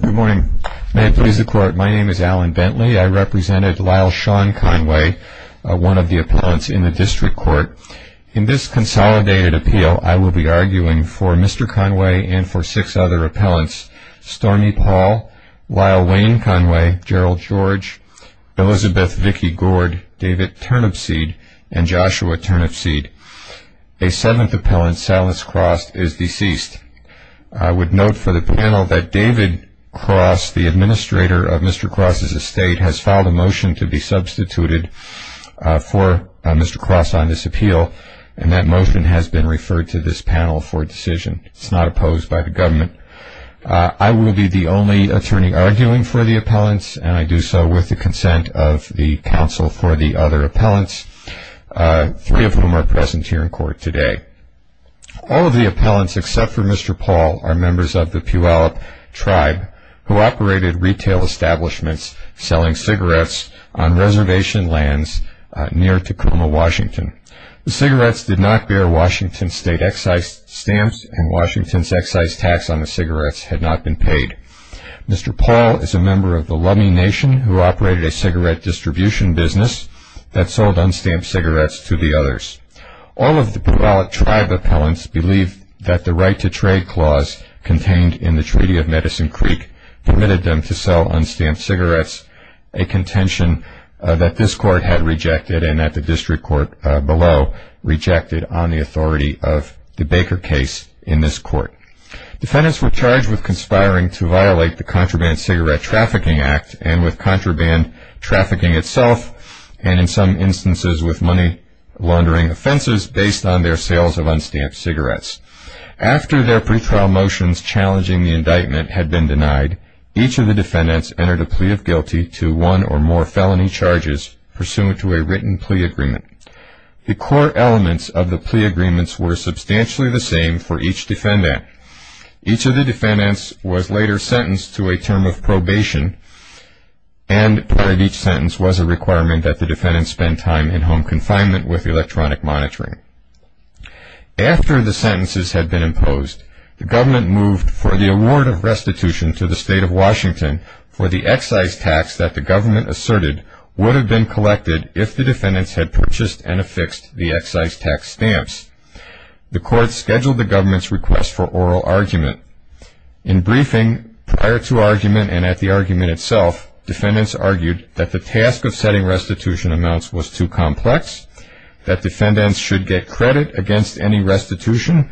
Good morning. May it please the court, my name is Alan Bentley. I represented Lyle Sean Conway, one of the appellants in the district court. In this consolidated appeal, I will be arguing for Mr. Conway and for six other appellants, Stormy Paul, Lyle Wayne Conway, Gerald George, Elizabeth Vicki Gord, David Turnipseed, and Joshua Turnipseed. A seventh appellant, Salas Cross, is deceased. I would note for the panel that David Cross, the administrator of Mr. Cross' estate, has filed a motion to be substituted for Mr. Cross on this appeal, and that motion has been referred to this panel for decision. It's not opposed by the government. I will be the only attorney arguing for the appellants, and I do so with the consent of the counsel for the other appellants, three of whom are present here in court today. All of the appellants except for Mr. Paul are members of the Puyallup tribe, who operated retail establishments selling cigarettes on reservation lands near Tacoma, Washington. The cigarettes did not bear Washington state excise stamps, and Washington's excise tax on the cigarettes had not been paid. Mr. Paul is a member of the Lummi Nation, who operated a cigarette distribution business that sold unstamped cigarettes to the others. All of the Puyallup tribe appellants believe that the right-to-trade clause contained in the Treaty of Medicine Creek permitted them to sell unstamped cigarettes, a contention that this court had rejected and that the district court below rejected on the authority of the Baker case in this court. Defendants were charged with conspiring to violate the Contraband Cigarette Trafficking Act and with contraband trafficking itself, and in some instances with money-laundering offenses based on their sales of unstamped cigarettes. After their pretrial motions challenging the indictment had been denied, each of the defendants entered a plea of guilty to one or more felony charges pursuant to a written plea agreement. The core elements of the plea agreements were substantially the same for each defendant. Each of the defendants was later sentenced to a term of probation, and part of each sentence was a requirement that the defendants spend time in home confinement with electronic monitoring. After the sentences had been imposed, the government moved for the award of restitution to the State of Washington for the excise tax that the government asserted would have been collected if the defendants had purchased and affixed the excise tax stamps. The court scheduled the government's request for oral argument. In briefing prior to argument and at the argument itself, defendants argued that the task of setting restitution amounts was too complex, that defendants should get credit against any restitution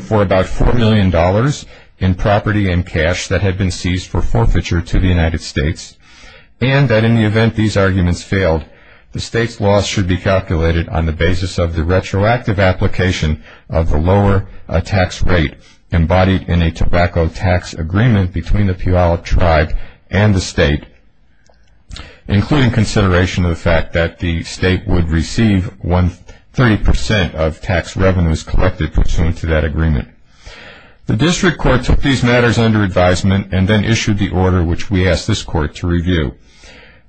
for about $4 million in property and cash that had been seized for forfeiture to the United States, and that in the event these arguments failed, the State's loss should be calculated on the basis of the retroactive application of the lower tax rate embodied in a tobacco tax agreement between the Puyallup Tribe and the State, including consideration of the fact that the State would receive 30 percent of tax revenues collected pursuant to that agreement. The District Court took these matters under advisement and then issued the order which we ask this Court to review.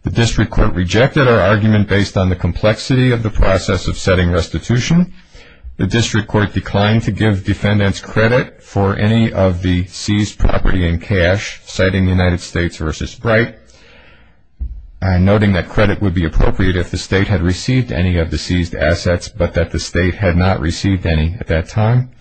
The District Court rejected our argument based on the complexity of the process of setting restitution. The District Court declined to give defendants credit for any of the seized property and cash, citing United States v. Bright, noting that credit would be appropriate if the State had received any of the seized assets but that the State had not received any at that time.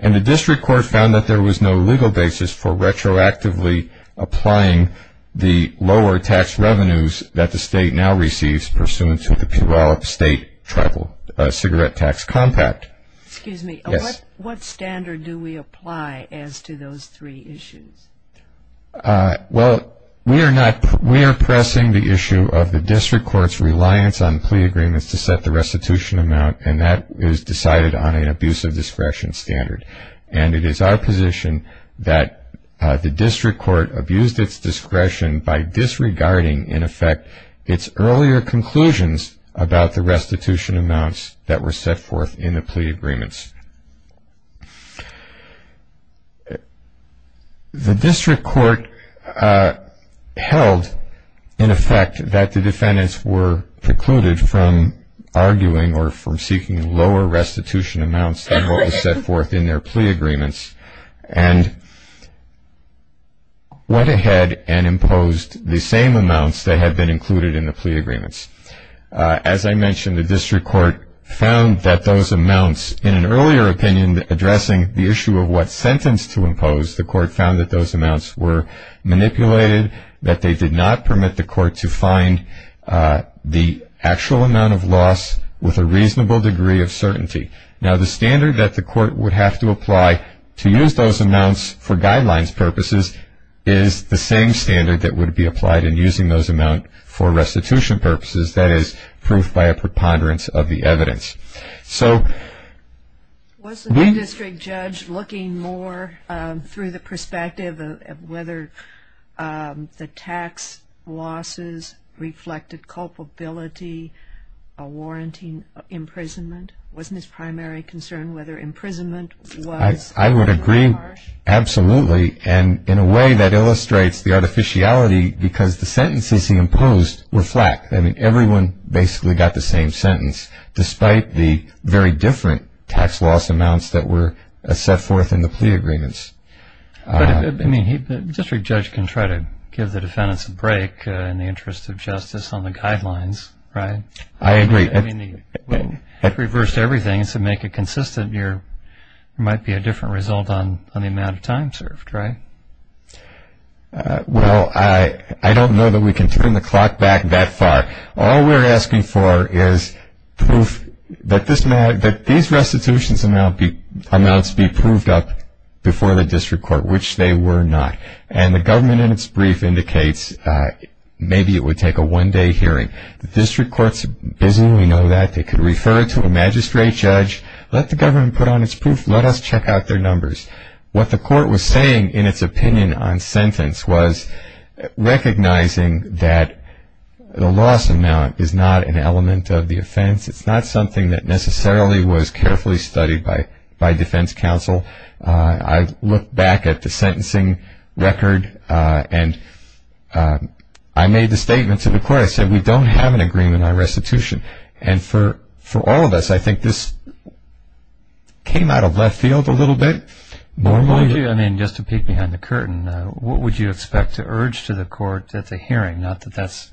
And the District Court found that there was no legal basis for retroactively applying the lower tax revenues that the State now receives pursuant to the Puyallup State Tribal Cigarette Tax Compact. Excuse me. Yes. What standard do we apply as to those three issues? Well, we are pressing the issue of the District Court's reliance on plea agreements to set the restitution amount, and that is decided on an abuse of discretion standard. And it is our position that the District Court abused its discretion by disregarding, in effect, its earlier conclusions about the restitution amounts that were set forth in the plea agreements. The District Court held, in effect, that the defendants were precluded from arguing or from seeking lower restitution amounts than what was set forth in their plea agreements and went ahead and imposed the same amounts that had been included in the plea agreements. As I mentioned, the District Court found that those amounts, in an earlier opinion addressing the issue of what sentence to impose, the Court found that those amounts were manipulated, that they did not permit the Court to find the actual amount of loss with a reasonable degree of certainty. Now, the standard that the Court would have to apply to use those amounts for guidelines purposes is the same standard that would be applied in using those amounts for restitution purposes, that is, proof by a preponderance of the evidence. So... Was the district judge looking more through the perspective of whether the tax losses reflected culpability or warranting imprisonment? Wasn't his primary concern whether imprisonment was... I would agree, absolutely, and in a way that illustrates the artificiality because the sentences he imposed were flat. I mean, everyone basically got the same sentence, despite the very different tax loss amounts that were set forth in the plea agreements. But, I mean, the district judge can try to give the defendants a break in the interest of justice on the guidelines, right? I agree. I mean, the reverse to everything is to make it consistent. There might be a different result on the amount of time served, right? Well, I don't know that we can turn the clock back that far. All we're asking for is proof that these restitutions amounts be proved up before the district court, which they were not. And the government, in its brief, indicates maybe it would take a one-day hearing. The district court is busy. We know that. They could refer it to a magistrate judge. Let the government put on its proof. Let us check out their numbers. What the court was saying in its opinion on sentence was recognizing that the loss amount is not an element of the offense. It's not something that necessarily was carefully studied by defense counsel. I look back at the sentencing record, and I made the statement to the court. I said, we don't have an agreement on restitution. And for all of us, I think this came out of left field a little bit. Just to peek behind the curtain, what would you expect to urge to the court at the hearing? Not that that's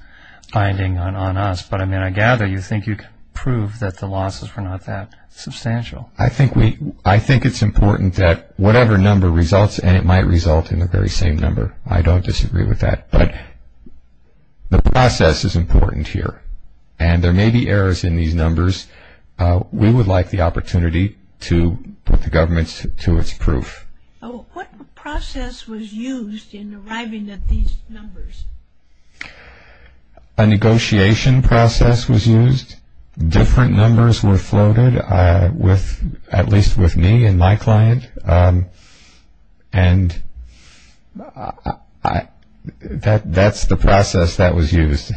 binding on us, but, I mean, I gather you think you can prove that the losses were not that substantial. I think it's important that whatever number results, and it might result in the very same number. I don't disagree with that. But the process is important here. And there may be errors in these numbers. We would like the opportunity to put the government to its proof. What process was used in arriving at these numbers? A negotiation process was used. Different numbers were floated, at least with me and my client. And that's the process that was used.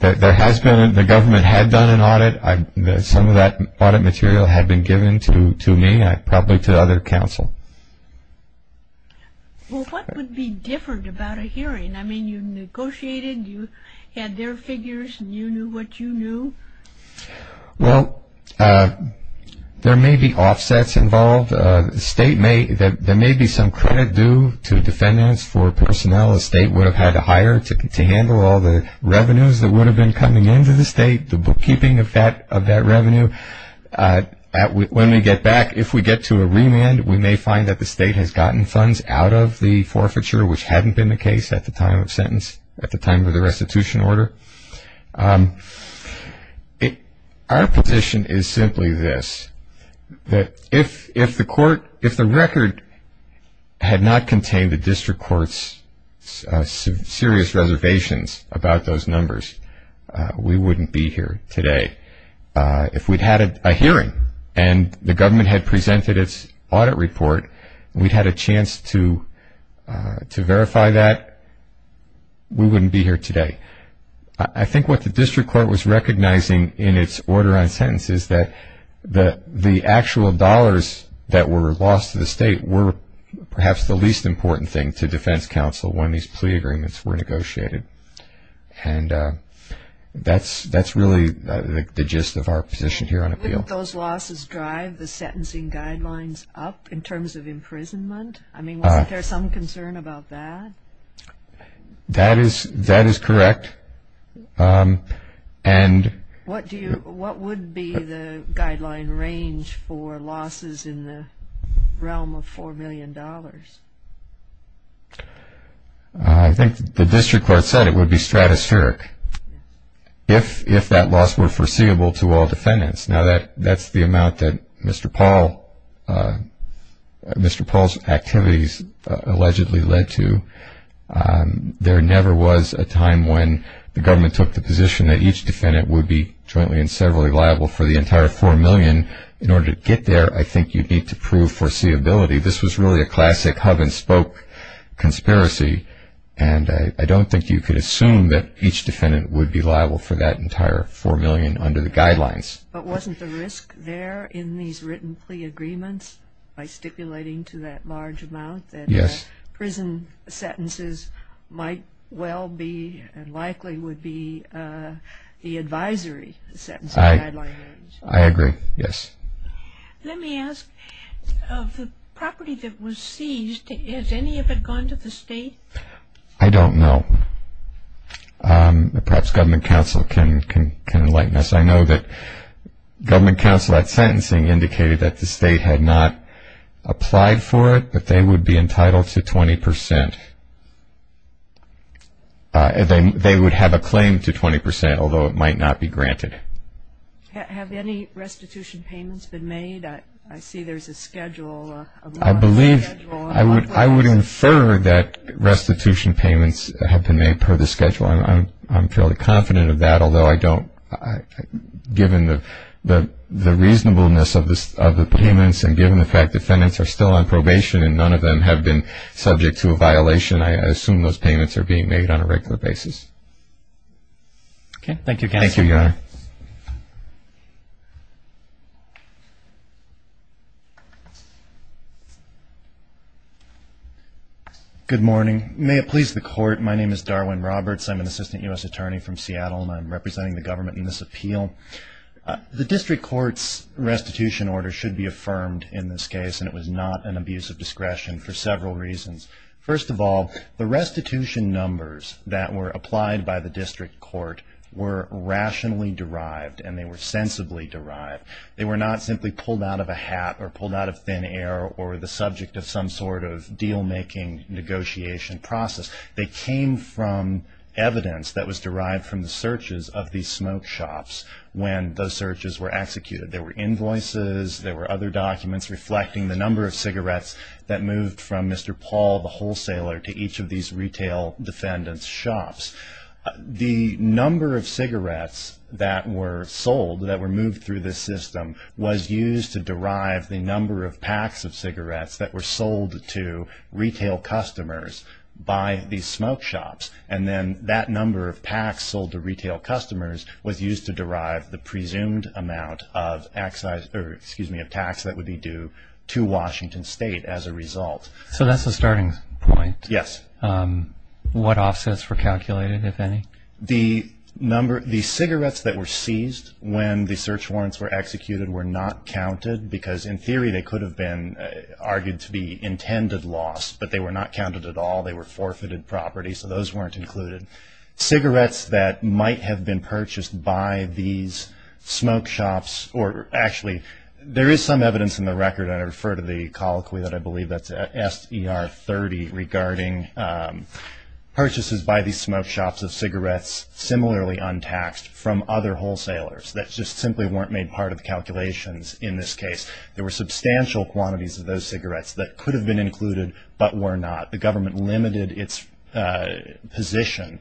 There has been, the government had done an audit. Some of that audit material had been given to me, probably to other counsel. Well, what would be different about a hearing? I mean, you negotiated, you had their figures, and you knew what you knew. Well, there may be offsets involved. There may be some credit due to defendants for personnel a state would have had to hire to handle all the revenues that would have been coming into the state, the bookkeeping of that revenue. When we get back, if we get to a remand, we may find that the state has gotten funds out of the forfeiture, which hadn't been the case at the time of sentence, at the time of the restitution order. Our position is simply this. If the record had not contained the district court's serious reservations about those numbers, we wouldn't be here today. If we'd had a hearing, and the government had presented its audit report, and we'd had a chance to verify that, we wouldn't be here today. I think what the district court was recognizing in its order on sentences that the actual dollars that were lost to the state were perhaps the least important thing to defense counsel when these plea agreements were negotiated. And that's really the gist of our position here on appeal. Wouldn't those losses drive the sentencing guidelines up in terms of imprisonment? I mean, wasn't there some concern about that? That is correct. What would be the guideline range for losses in the realm of $4 million? I think the district court said it would be stratospheric if that loss were foreseeable to all defendants. Now, that's the amount that Mr. Paul's activities allegedly led to. There never was a time when the government took the position that each defendant would be jointly and severally liable for the entire $4 million. In order to get there, I think you'd need to prove foreseeability. This was really a classic hub-and-spoke conspiracy, and I don't think you could assume that each defendant would be liable for that entire $4 million under the guidelines. But wasn't the risk there in these written plea agreements by stipulating to that large amount that prison sentences might well be and likely would be the advisory sentencing guideline range? I agree, yes. Let me ask, of the property that was seized, has any of it gone to the state? I don't know. Perhaps government counsel can enlighten us. I know that government counsel at sentencing indicated that the state had not applied for it, but they would be entitled to 20 percent. They would have a claim to 20 percent, although it might not be granted. Have any restitution payments been made? I see there's a schedule. I believe I would infer that restitution payments have been made per the schedule. I'm fairly confident of that, although I don't, given the reasonableness of the payments and given the fact defendants are still on probation and none of them have been subject to a violation, I assume those payments are being made on a regular basis. Okay. Thank you, counsel. Thank you, Your Honor. Good morning. May it please the Court, my name is Darwin Roberts. I'm an assistant U.S. attorney from Seattle, and I'm representing the government in this appeal. The district court's restitution order should be affirmed in this case, and it was not an abuse of discretion for several reasons. First of all, the restitution numbers that were applied by the district court were rationally derived and they were sensibly derived. They were not simply pulled out of a hat or pulled out of thin air or the subject of some sort of deal-making negotiation process. They came from evidence that was derived from the searches of these smoke shops when those searches were executed. There were invoices, there were other documents reflecting the number of cigarettes that moved from Mr. Paul, the wholesaler, to each of these retail defendant's shops. The number of cigarettes that were sold, that were moved through this system, was used to derive the number of packs of cigarettes that were sold to retail customers by these smoke shops. And then that number of packs sold to retail customers was used to derive the presumed amount of tax that would be due to Washington State as a result. So that's the starting point. Yes. What offsets were calculated, if any? The cigarettes that were seized when the search warrants were executed were not counted because in theory they could have been argued to be intended loss, but they were not counted at all. They were forfeited property, so those weren't included. Cigarettes that might have been purchased by these smoke shops or actually there is some evidence in the record, and I refer to the colloquy that I believe that's S.E.R. 30, regarding purchases by these smoke shops of cigarettes similarly untaxed from other wholesalers that just simply weren't made part of the calculations in this case. There were substantial quantities of those cigarettes that could have been included but were not. The government limited its position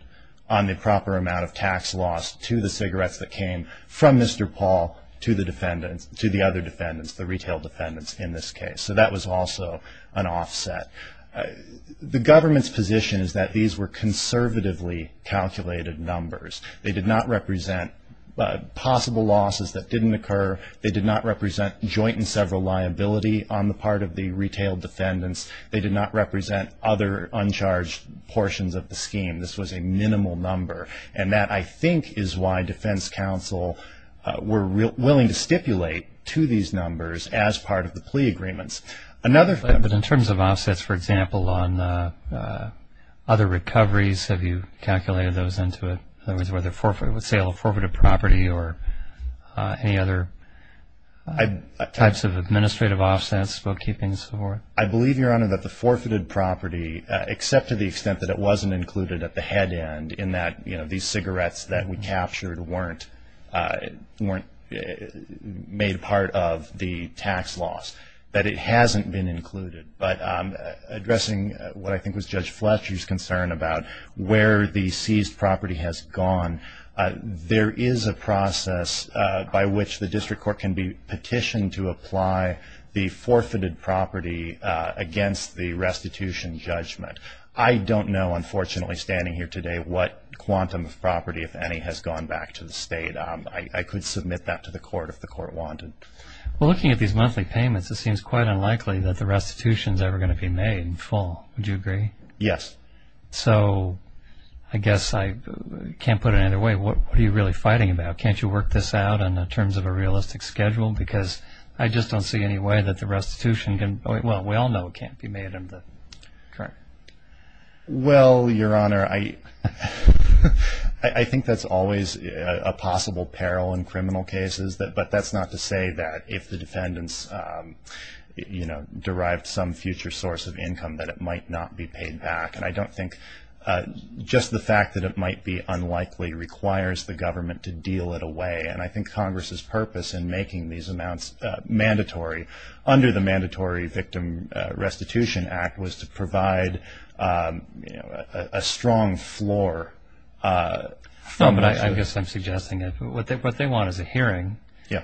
on the proper amount of tax loss to the cigarettes that came from Mr. Paul to the other defendants, the retail defendants in this case. So that was also an offset. The government's position is that these were conservatively calculated numbers. They did not represent possible losses that didn't occur. They did not represent joint and several liability on the part of the retail defendants. This was a minimal number, and that, I think, is why defense counsel were willing to stipulate to these numbers as part of the plea agreements. But in terms of offsets, for example, on other recoveries, have you calculated those into it, whether it was sale of forfeited property or any other types of administrative offsets, bookkeeping, so forth? I believe, Your Honor, that the forfeited property, except to the extent that it wasn't included at the head end, in that these cigarettes that we captured weren't made part of the tax loss, that it hasn't been included. But addressing what I think was Judge Fletcher's concern about where the seized property has gone, there is a process by which the district court can be petitioned to apply the forfeited property against the restitution judgment. I don't know, unfortunately, standing here today, what quantum of property, if any, has gone back to the state. I could submit that to the court if the court wanted. Well, looking at these monthly payments, it seems quite unlikely that the restitution is ever going to be made in full. Would you agree? Yes. So, I guess I can't put it either way. What are you really fighting about? Can't you work this out in terms of a realistic schedule? Because I just don't see any way that the restitution can – well, we all know it can't be made in the – correct. Well, Your Honor, I think that's always a possible peril in criminal cases. But that's not to say that if the defendants derived some future source of income that it might not be paid back. And I don't think just the fact that it might be unlikely requires the government to deal it away. And I think Congress's purpose in making these amounts mandatory under the Mandatory Victim Restitution Act was to provide a strong floor. No, but I guess I'm suggesting that what they want is a hearing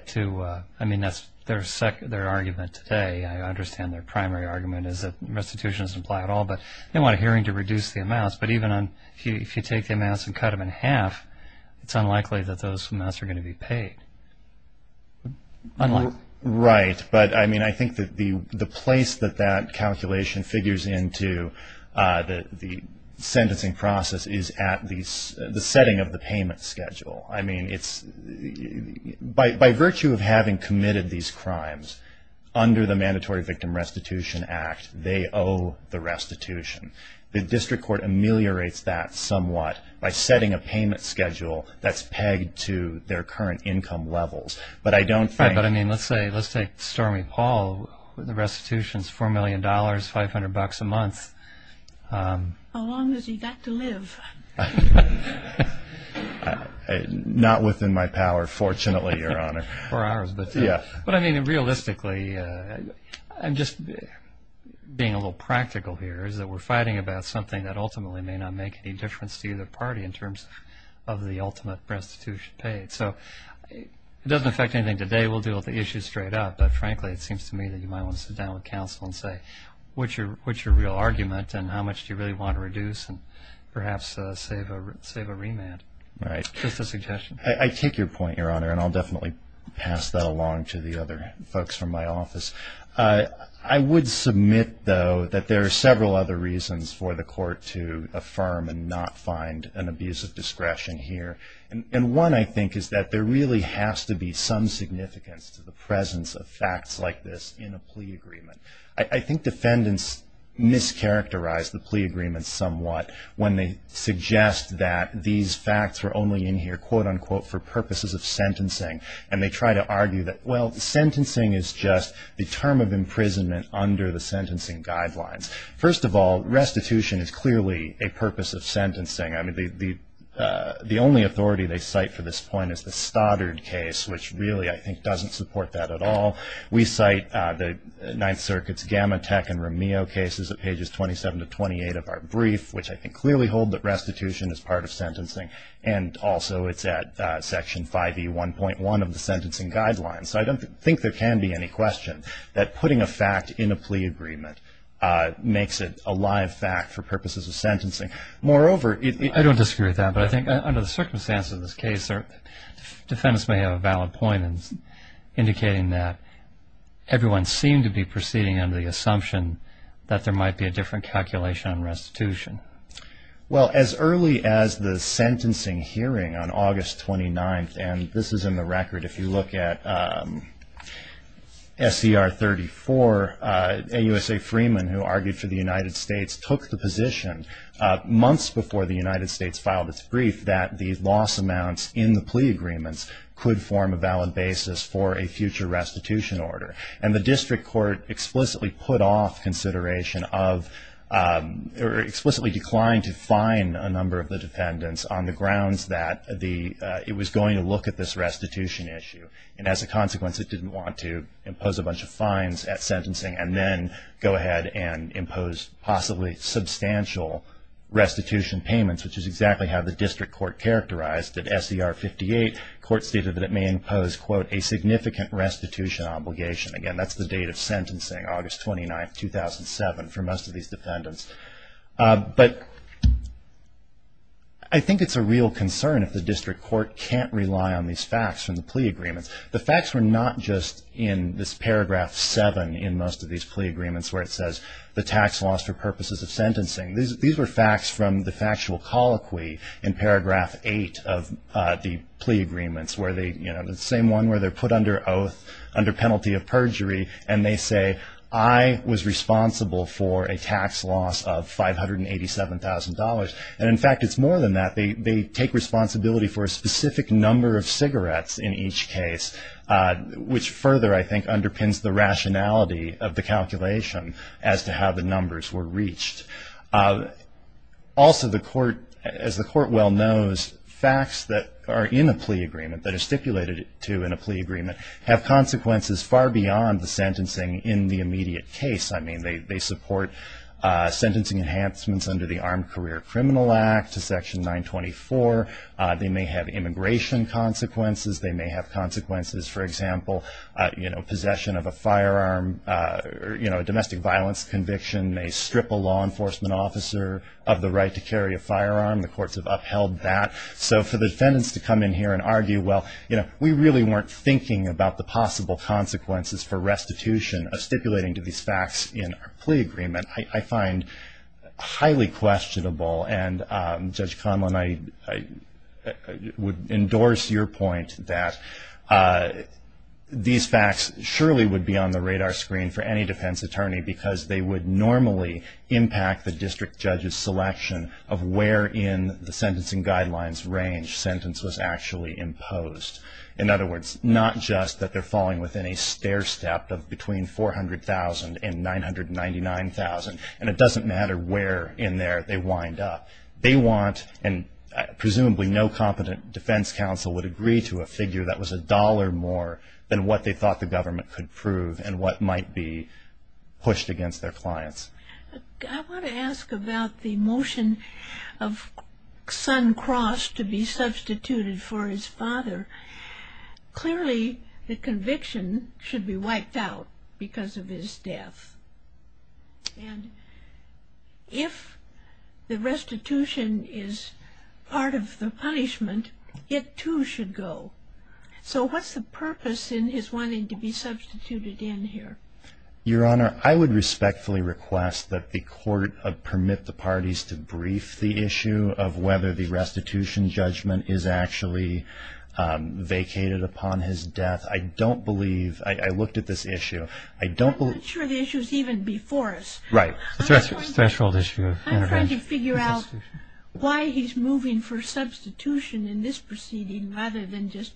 to – I mean, that's their argument today. I understand their primary argument is that restitution doesn't apply at all. But they want a hearing to reduce the amounts. But even if you take the amounts and cut them in half, it's unlikely that those amounts are going to be paid. Unlikely. Right. But, I mean, I think that the place that that calculation figures into the sentencing process is at the setting of the payment schedule. I mean, it's – by virtue of having committed these crimes under the Mandatory Victim Restitution Act, they owe the restitution. The district court ameliorates that somewhat by setting a payment schedule that's pegged to their current income levels. But I don't think – Right, but, I mean, let's say – let's take Stormy Paul. The restitution's $4 million, 500 bucks a month. How long has he got to live? Not within my power, fortunately, Your Honor. But, I mean, realistically, I'm just being a little practical here, is that we're fighting about something that ultimately may not make any difference to either party in terms of the ultimate restitution paid. So it doesn't affect anything today. We'll deal with the issue straight up. But, frankly, it seems to me that you might want to sit down with counsel and say, what's your real argument and how much do you really want to reduce and perhaps save a remand? Right. Just a suggestion. I take your point, Your Honor, and I'll definitely pass that along to the other folks from my office. I would submit, though, that there are several other reasons for the court to affirm and not find an abuse of discretion here. And one, I think, is that there really has to be some significance to the presence of facts like this in a plea agreement. I think defendants mischaracterize the plea agreement somewhat when they suggest that these facts were only in here, quote, unquote, for purposes of sentencing. And they try to argue that, well, sentencing is just the term of imprisonment under the sentencing guidelines. First of all, restitution is clearly a purpose of sentencing. I mean, the only authority they cite for this point is the Stoddard case, which really, I think, doesn't support that at all. We cite the Ninth Circuit's Gamatech and Romeo cases at pages 27 to 28 of our brief, which I think clearly hold that restitution is part of sentencing. And also it's at section 5E1.1 of the sentencing guidelines. So I don't think there can be any question that putting a fact in a plea agreement makes it a live fact for purposes of sentencing. Moreover, it – I don't disagree with that. But I think under the circumstances of this case, defendants may have a valid point in indicating that everyone seemed to be proceeding under the assumption that there might be a different calculation on restitution. Well, as early as the sentencing hearing on August 29th, and this is in the record if you look at SCR 34, AUSA Freeman, who argued for the United States, took the position months before the United States filed its brief that the loss amounts in the plea agreements could form a valid basis for a future restitution order. And the district court explicitly put off consideration of – or explicitly declined to fine a number of the defendants on the grounds that the – it was going to look at this restitution issue. And as a consequence, it didn't want to impose a bunch of fines at sentencing and then go ahead and impose possibly substantial restitution payments, which is exactly how the district court characterized it. SCR 58, court stated that it may impose, quote, a significant restitution obligation. Again, that's the date of sentencing, August 29th, 2007, for most of these defendants. But I think it's a real concern if the district court can't rely on these facts from the plea agreements. The facts were not just in this paragraph 7 in most of these plea agreements, where it says the tax loss for purposes of sentencing. These were facts from the factual colloquy in paragraph 8 of the plea agreements, where they – you know, the same one where they're put under oath, under penalty of perjury, and they say, I was responsible for a tax loss of $587,000. And in fact, it's more than that. They take responsibility for a specific number of cigarettes in each case, which further, I think, underpins the rationality of the calculation as to how the numbers were reached. Also, the court – as the court well knows, facts that are in a plea agreement, that are stipulated to in a plea agreement, have consequences far beyond the sentencing in the immediate case. I mean, they support sentencing enhancements under the Armed Career Criminal Act to Section 924. They may have immigration consequences. They may have consequences, for example, you know, possession of a firearm, you know, a domestic violence conviction, may strip a law enforcement officer of the right to carry a firearm. The courts have upheld that. So for the defendants to come in here and argue, well, you know, we really weren't thinking about the possible consequences for restitution of stipulating to these facts in our plea agreement, I find highly questionable. And Judge Conlon, I would endorse your point that these facts surely would be on the radar screen for any defense attorney because they would normally impact the district judge's selection of where in the sentencing guidelines range sentence was actually imposed. In other words, not just that they're falling within a stair step of between 400,000 and 999,000, and it doesn't matter where in there they wind up. They want – and presumably no competent defense counsel would agree to a figure that was a dollar more than what they thought the government could prove and what might be pushed against their clients. I want to ask about the motion of Sun Cross to be substituted for his father. Clearly the conviction should be wiped out because of his death. And if the restitution is part of the punishment, it too should go. So what's the purpose in his wanting to be substituted in here? Your Honor, I would respectfully request that the court permit the parties to brief the issue of whether the restitution judgment is actually vacated upon his death. I don't believe – I looked at this issue. I'm not sure the issue is even before us. Right. I'm trying to figure out why he's moving for substitution in this proceeding rather than just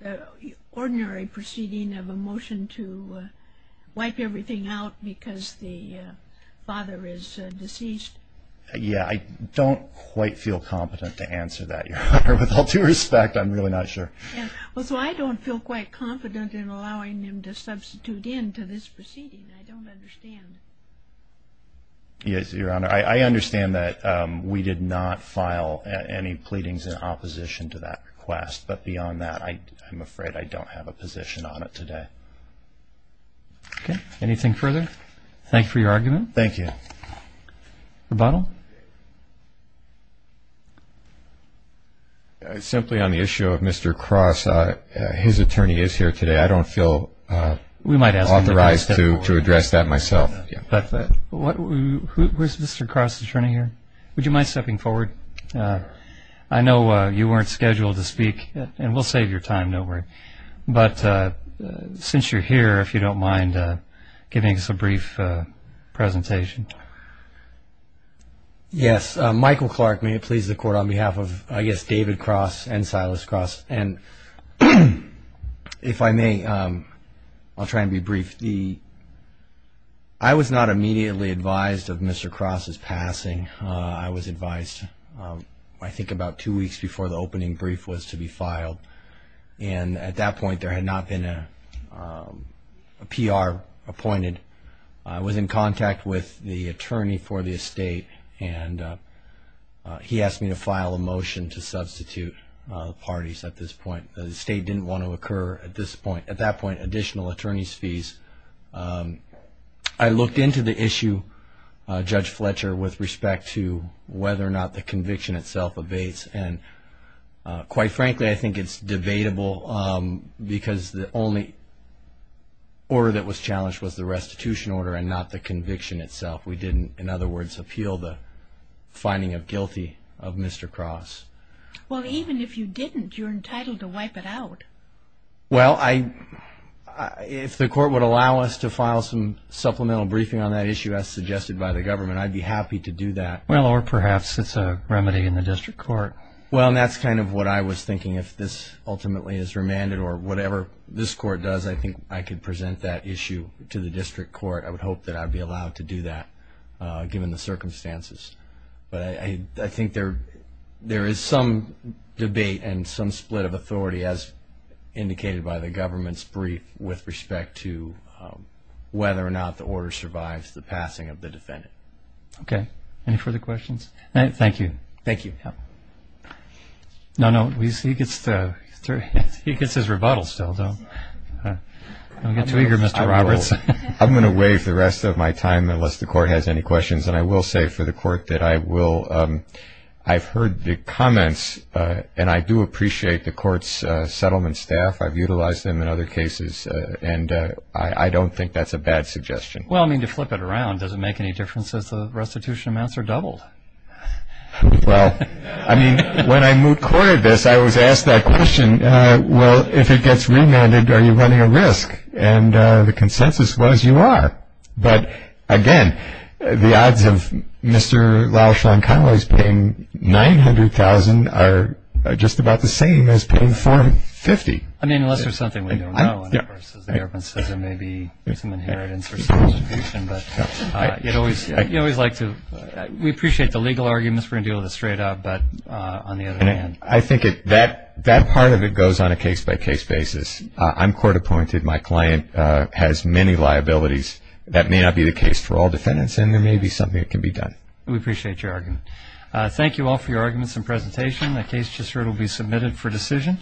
the ordinary proceeding of a motion to wipe everything out because the father is deceased. Yeah, I don't quite feel competent to answer that, Your Honor. With all due respect, I'm really not sure. Well, so I don't feel quite confident in allowing him to substitute in to this proceeding. I don't understand. Yes, Your Honor. I understand that we did not file any pleadings in opposition to that request. But beyond that, I'm afraid I don't have a position on it today. Okay. Anything further? Thank you for your argument. Thank you. Rebuttal? Simply on the issue of Mr. Cross, his attorney is here today. I don't feel authorized to address that myself. Where's Mr. Cross, the attorney here? Would you mind stepping forward? I know you weren't scheduled to speak, and we'll save your time, don't worry. But since you're here, if you don't mind giving us a brief presentation. Yes. Michael Clark, may it please the Court, on behalf of, I guess, David Cross and Silas Cross. And if I may, I'll try and be brief. I was not immediately advised of Mr. Cross's passing. I was advised, I think, about two weeks before the opening brief was to be filed. And at that point, there had not been a PR appointed. I was in contact with the attorney for the estate, and he asked me to file a motion to substitute parties at this point. The estate didn't want to occur at this point. At that point, additional attorney's fees. I looked into the issue, Judge Fletcher, with respect to whether or not the conviction itself abates. And quite frankly, I think it's debatable, because the only order that was challenged was the restitution order and not the conviction itself. We didn't, in other words, appeal the finding of guilty of Mr. Cross. Well, even if you didn't, you're entitled to wipe it out. Well, if the Court would allow us to file some supplemental briefing on that issue, as suggested by the government, I'd be happy to do that. Well, or perhaps it's a remedy in the district court. Well, and that's kind of what I was thinking. If this ultimately is remanded, or whatever this court does, I think I could present that issue to the district court. I would hope that I'd be allowed to do that, given the circumstances. But I think there is some debate and some split of authority, as indicated by the government's brief, with respect to whether or not the order survives the passing of the defendant. Okay. Any further questions? Thank you. Thank you. No, no, he gets his rebuttal still, though. Don't get too eager, Mr. Roberts. I'm going to waive the rest of my time, unless the Court has any questions. And I will say for the Court that I've heard the comments, and I do appreciate the Court's settlement staff. I've utilized them in other cases, and I don't think that's a bad suggestion. Well, I mean, to flip it around, does it make any difference if the restitution amounts are doubled? Well, I mean, when I moot courted this, I was asked that question, well, if it gets remanded, are you running a risk? And the consensus was, you are. But, again, the odds of Mr. Laushon-Connolly's paying $900,000 are just about the same as paying $450,000. I mean, unless there's something we don't know, and, of course, as the government says, there may be some inheritance or some distribution. But we appreciate the legal arguments. We're going to deal with it straight up. But on the other hand. I think that part of it goes on a case-by-case basis. I'm court appointed. My client has many liabilities. That may not be the case for all defendants, and there may be something that can be done. We appreciate your argument. Thank you all for your arguments and presentation. The case just heard will be submitted for decision.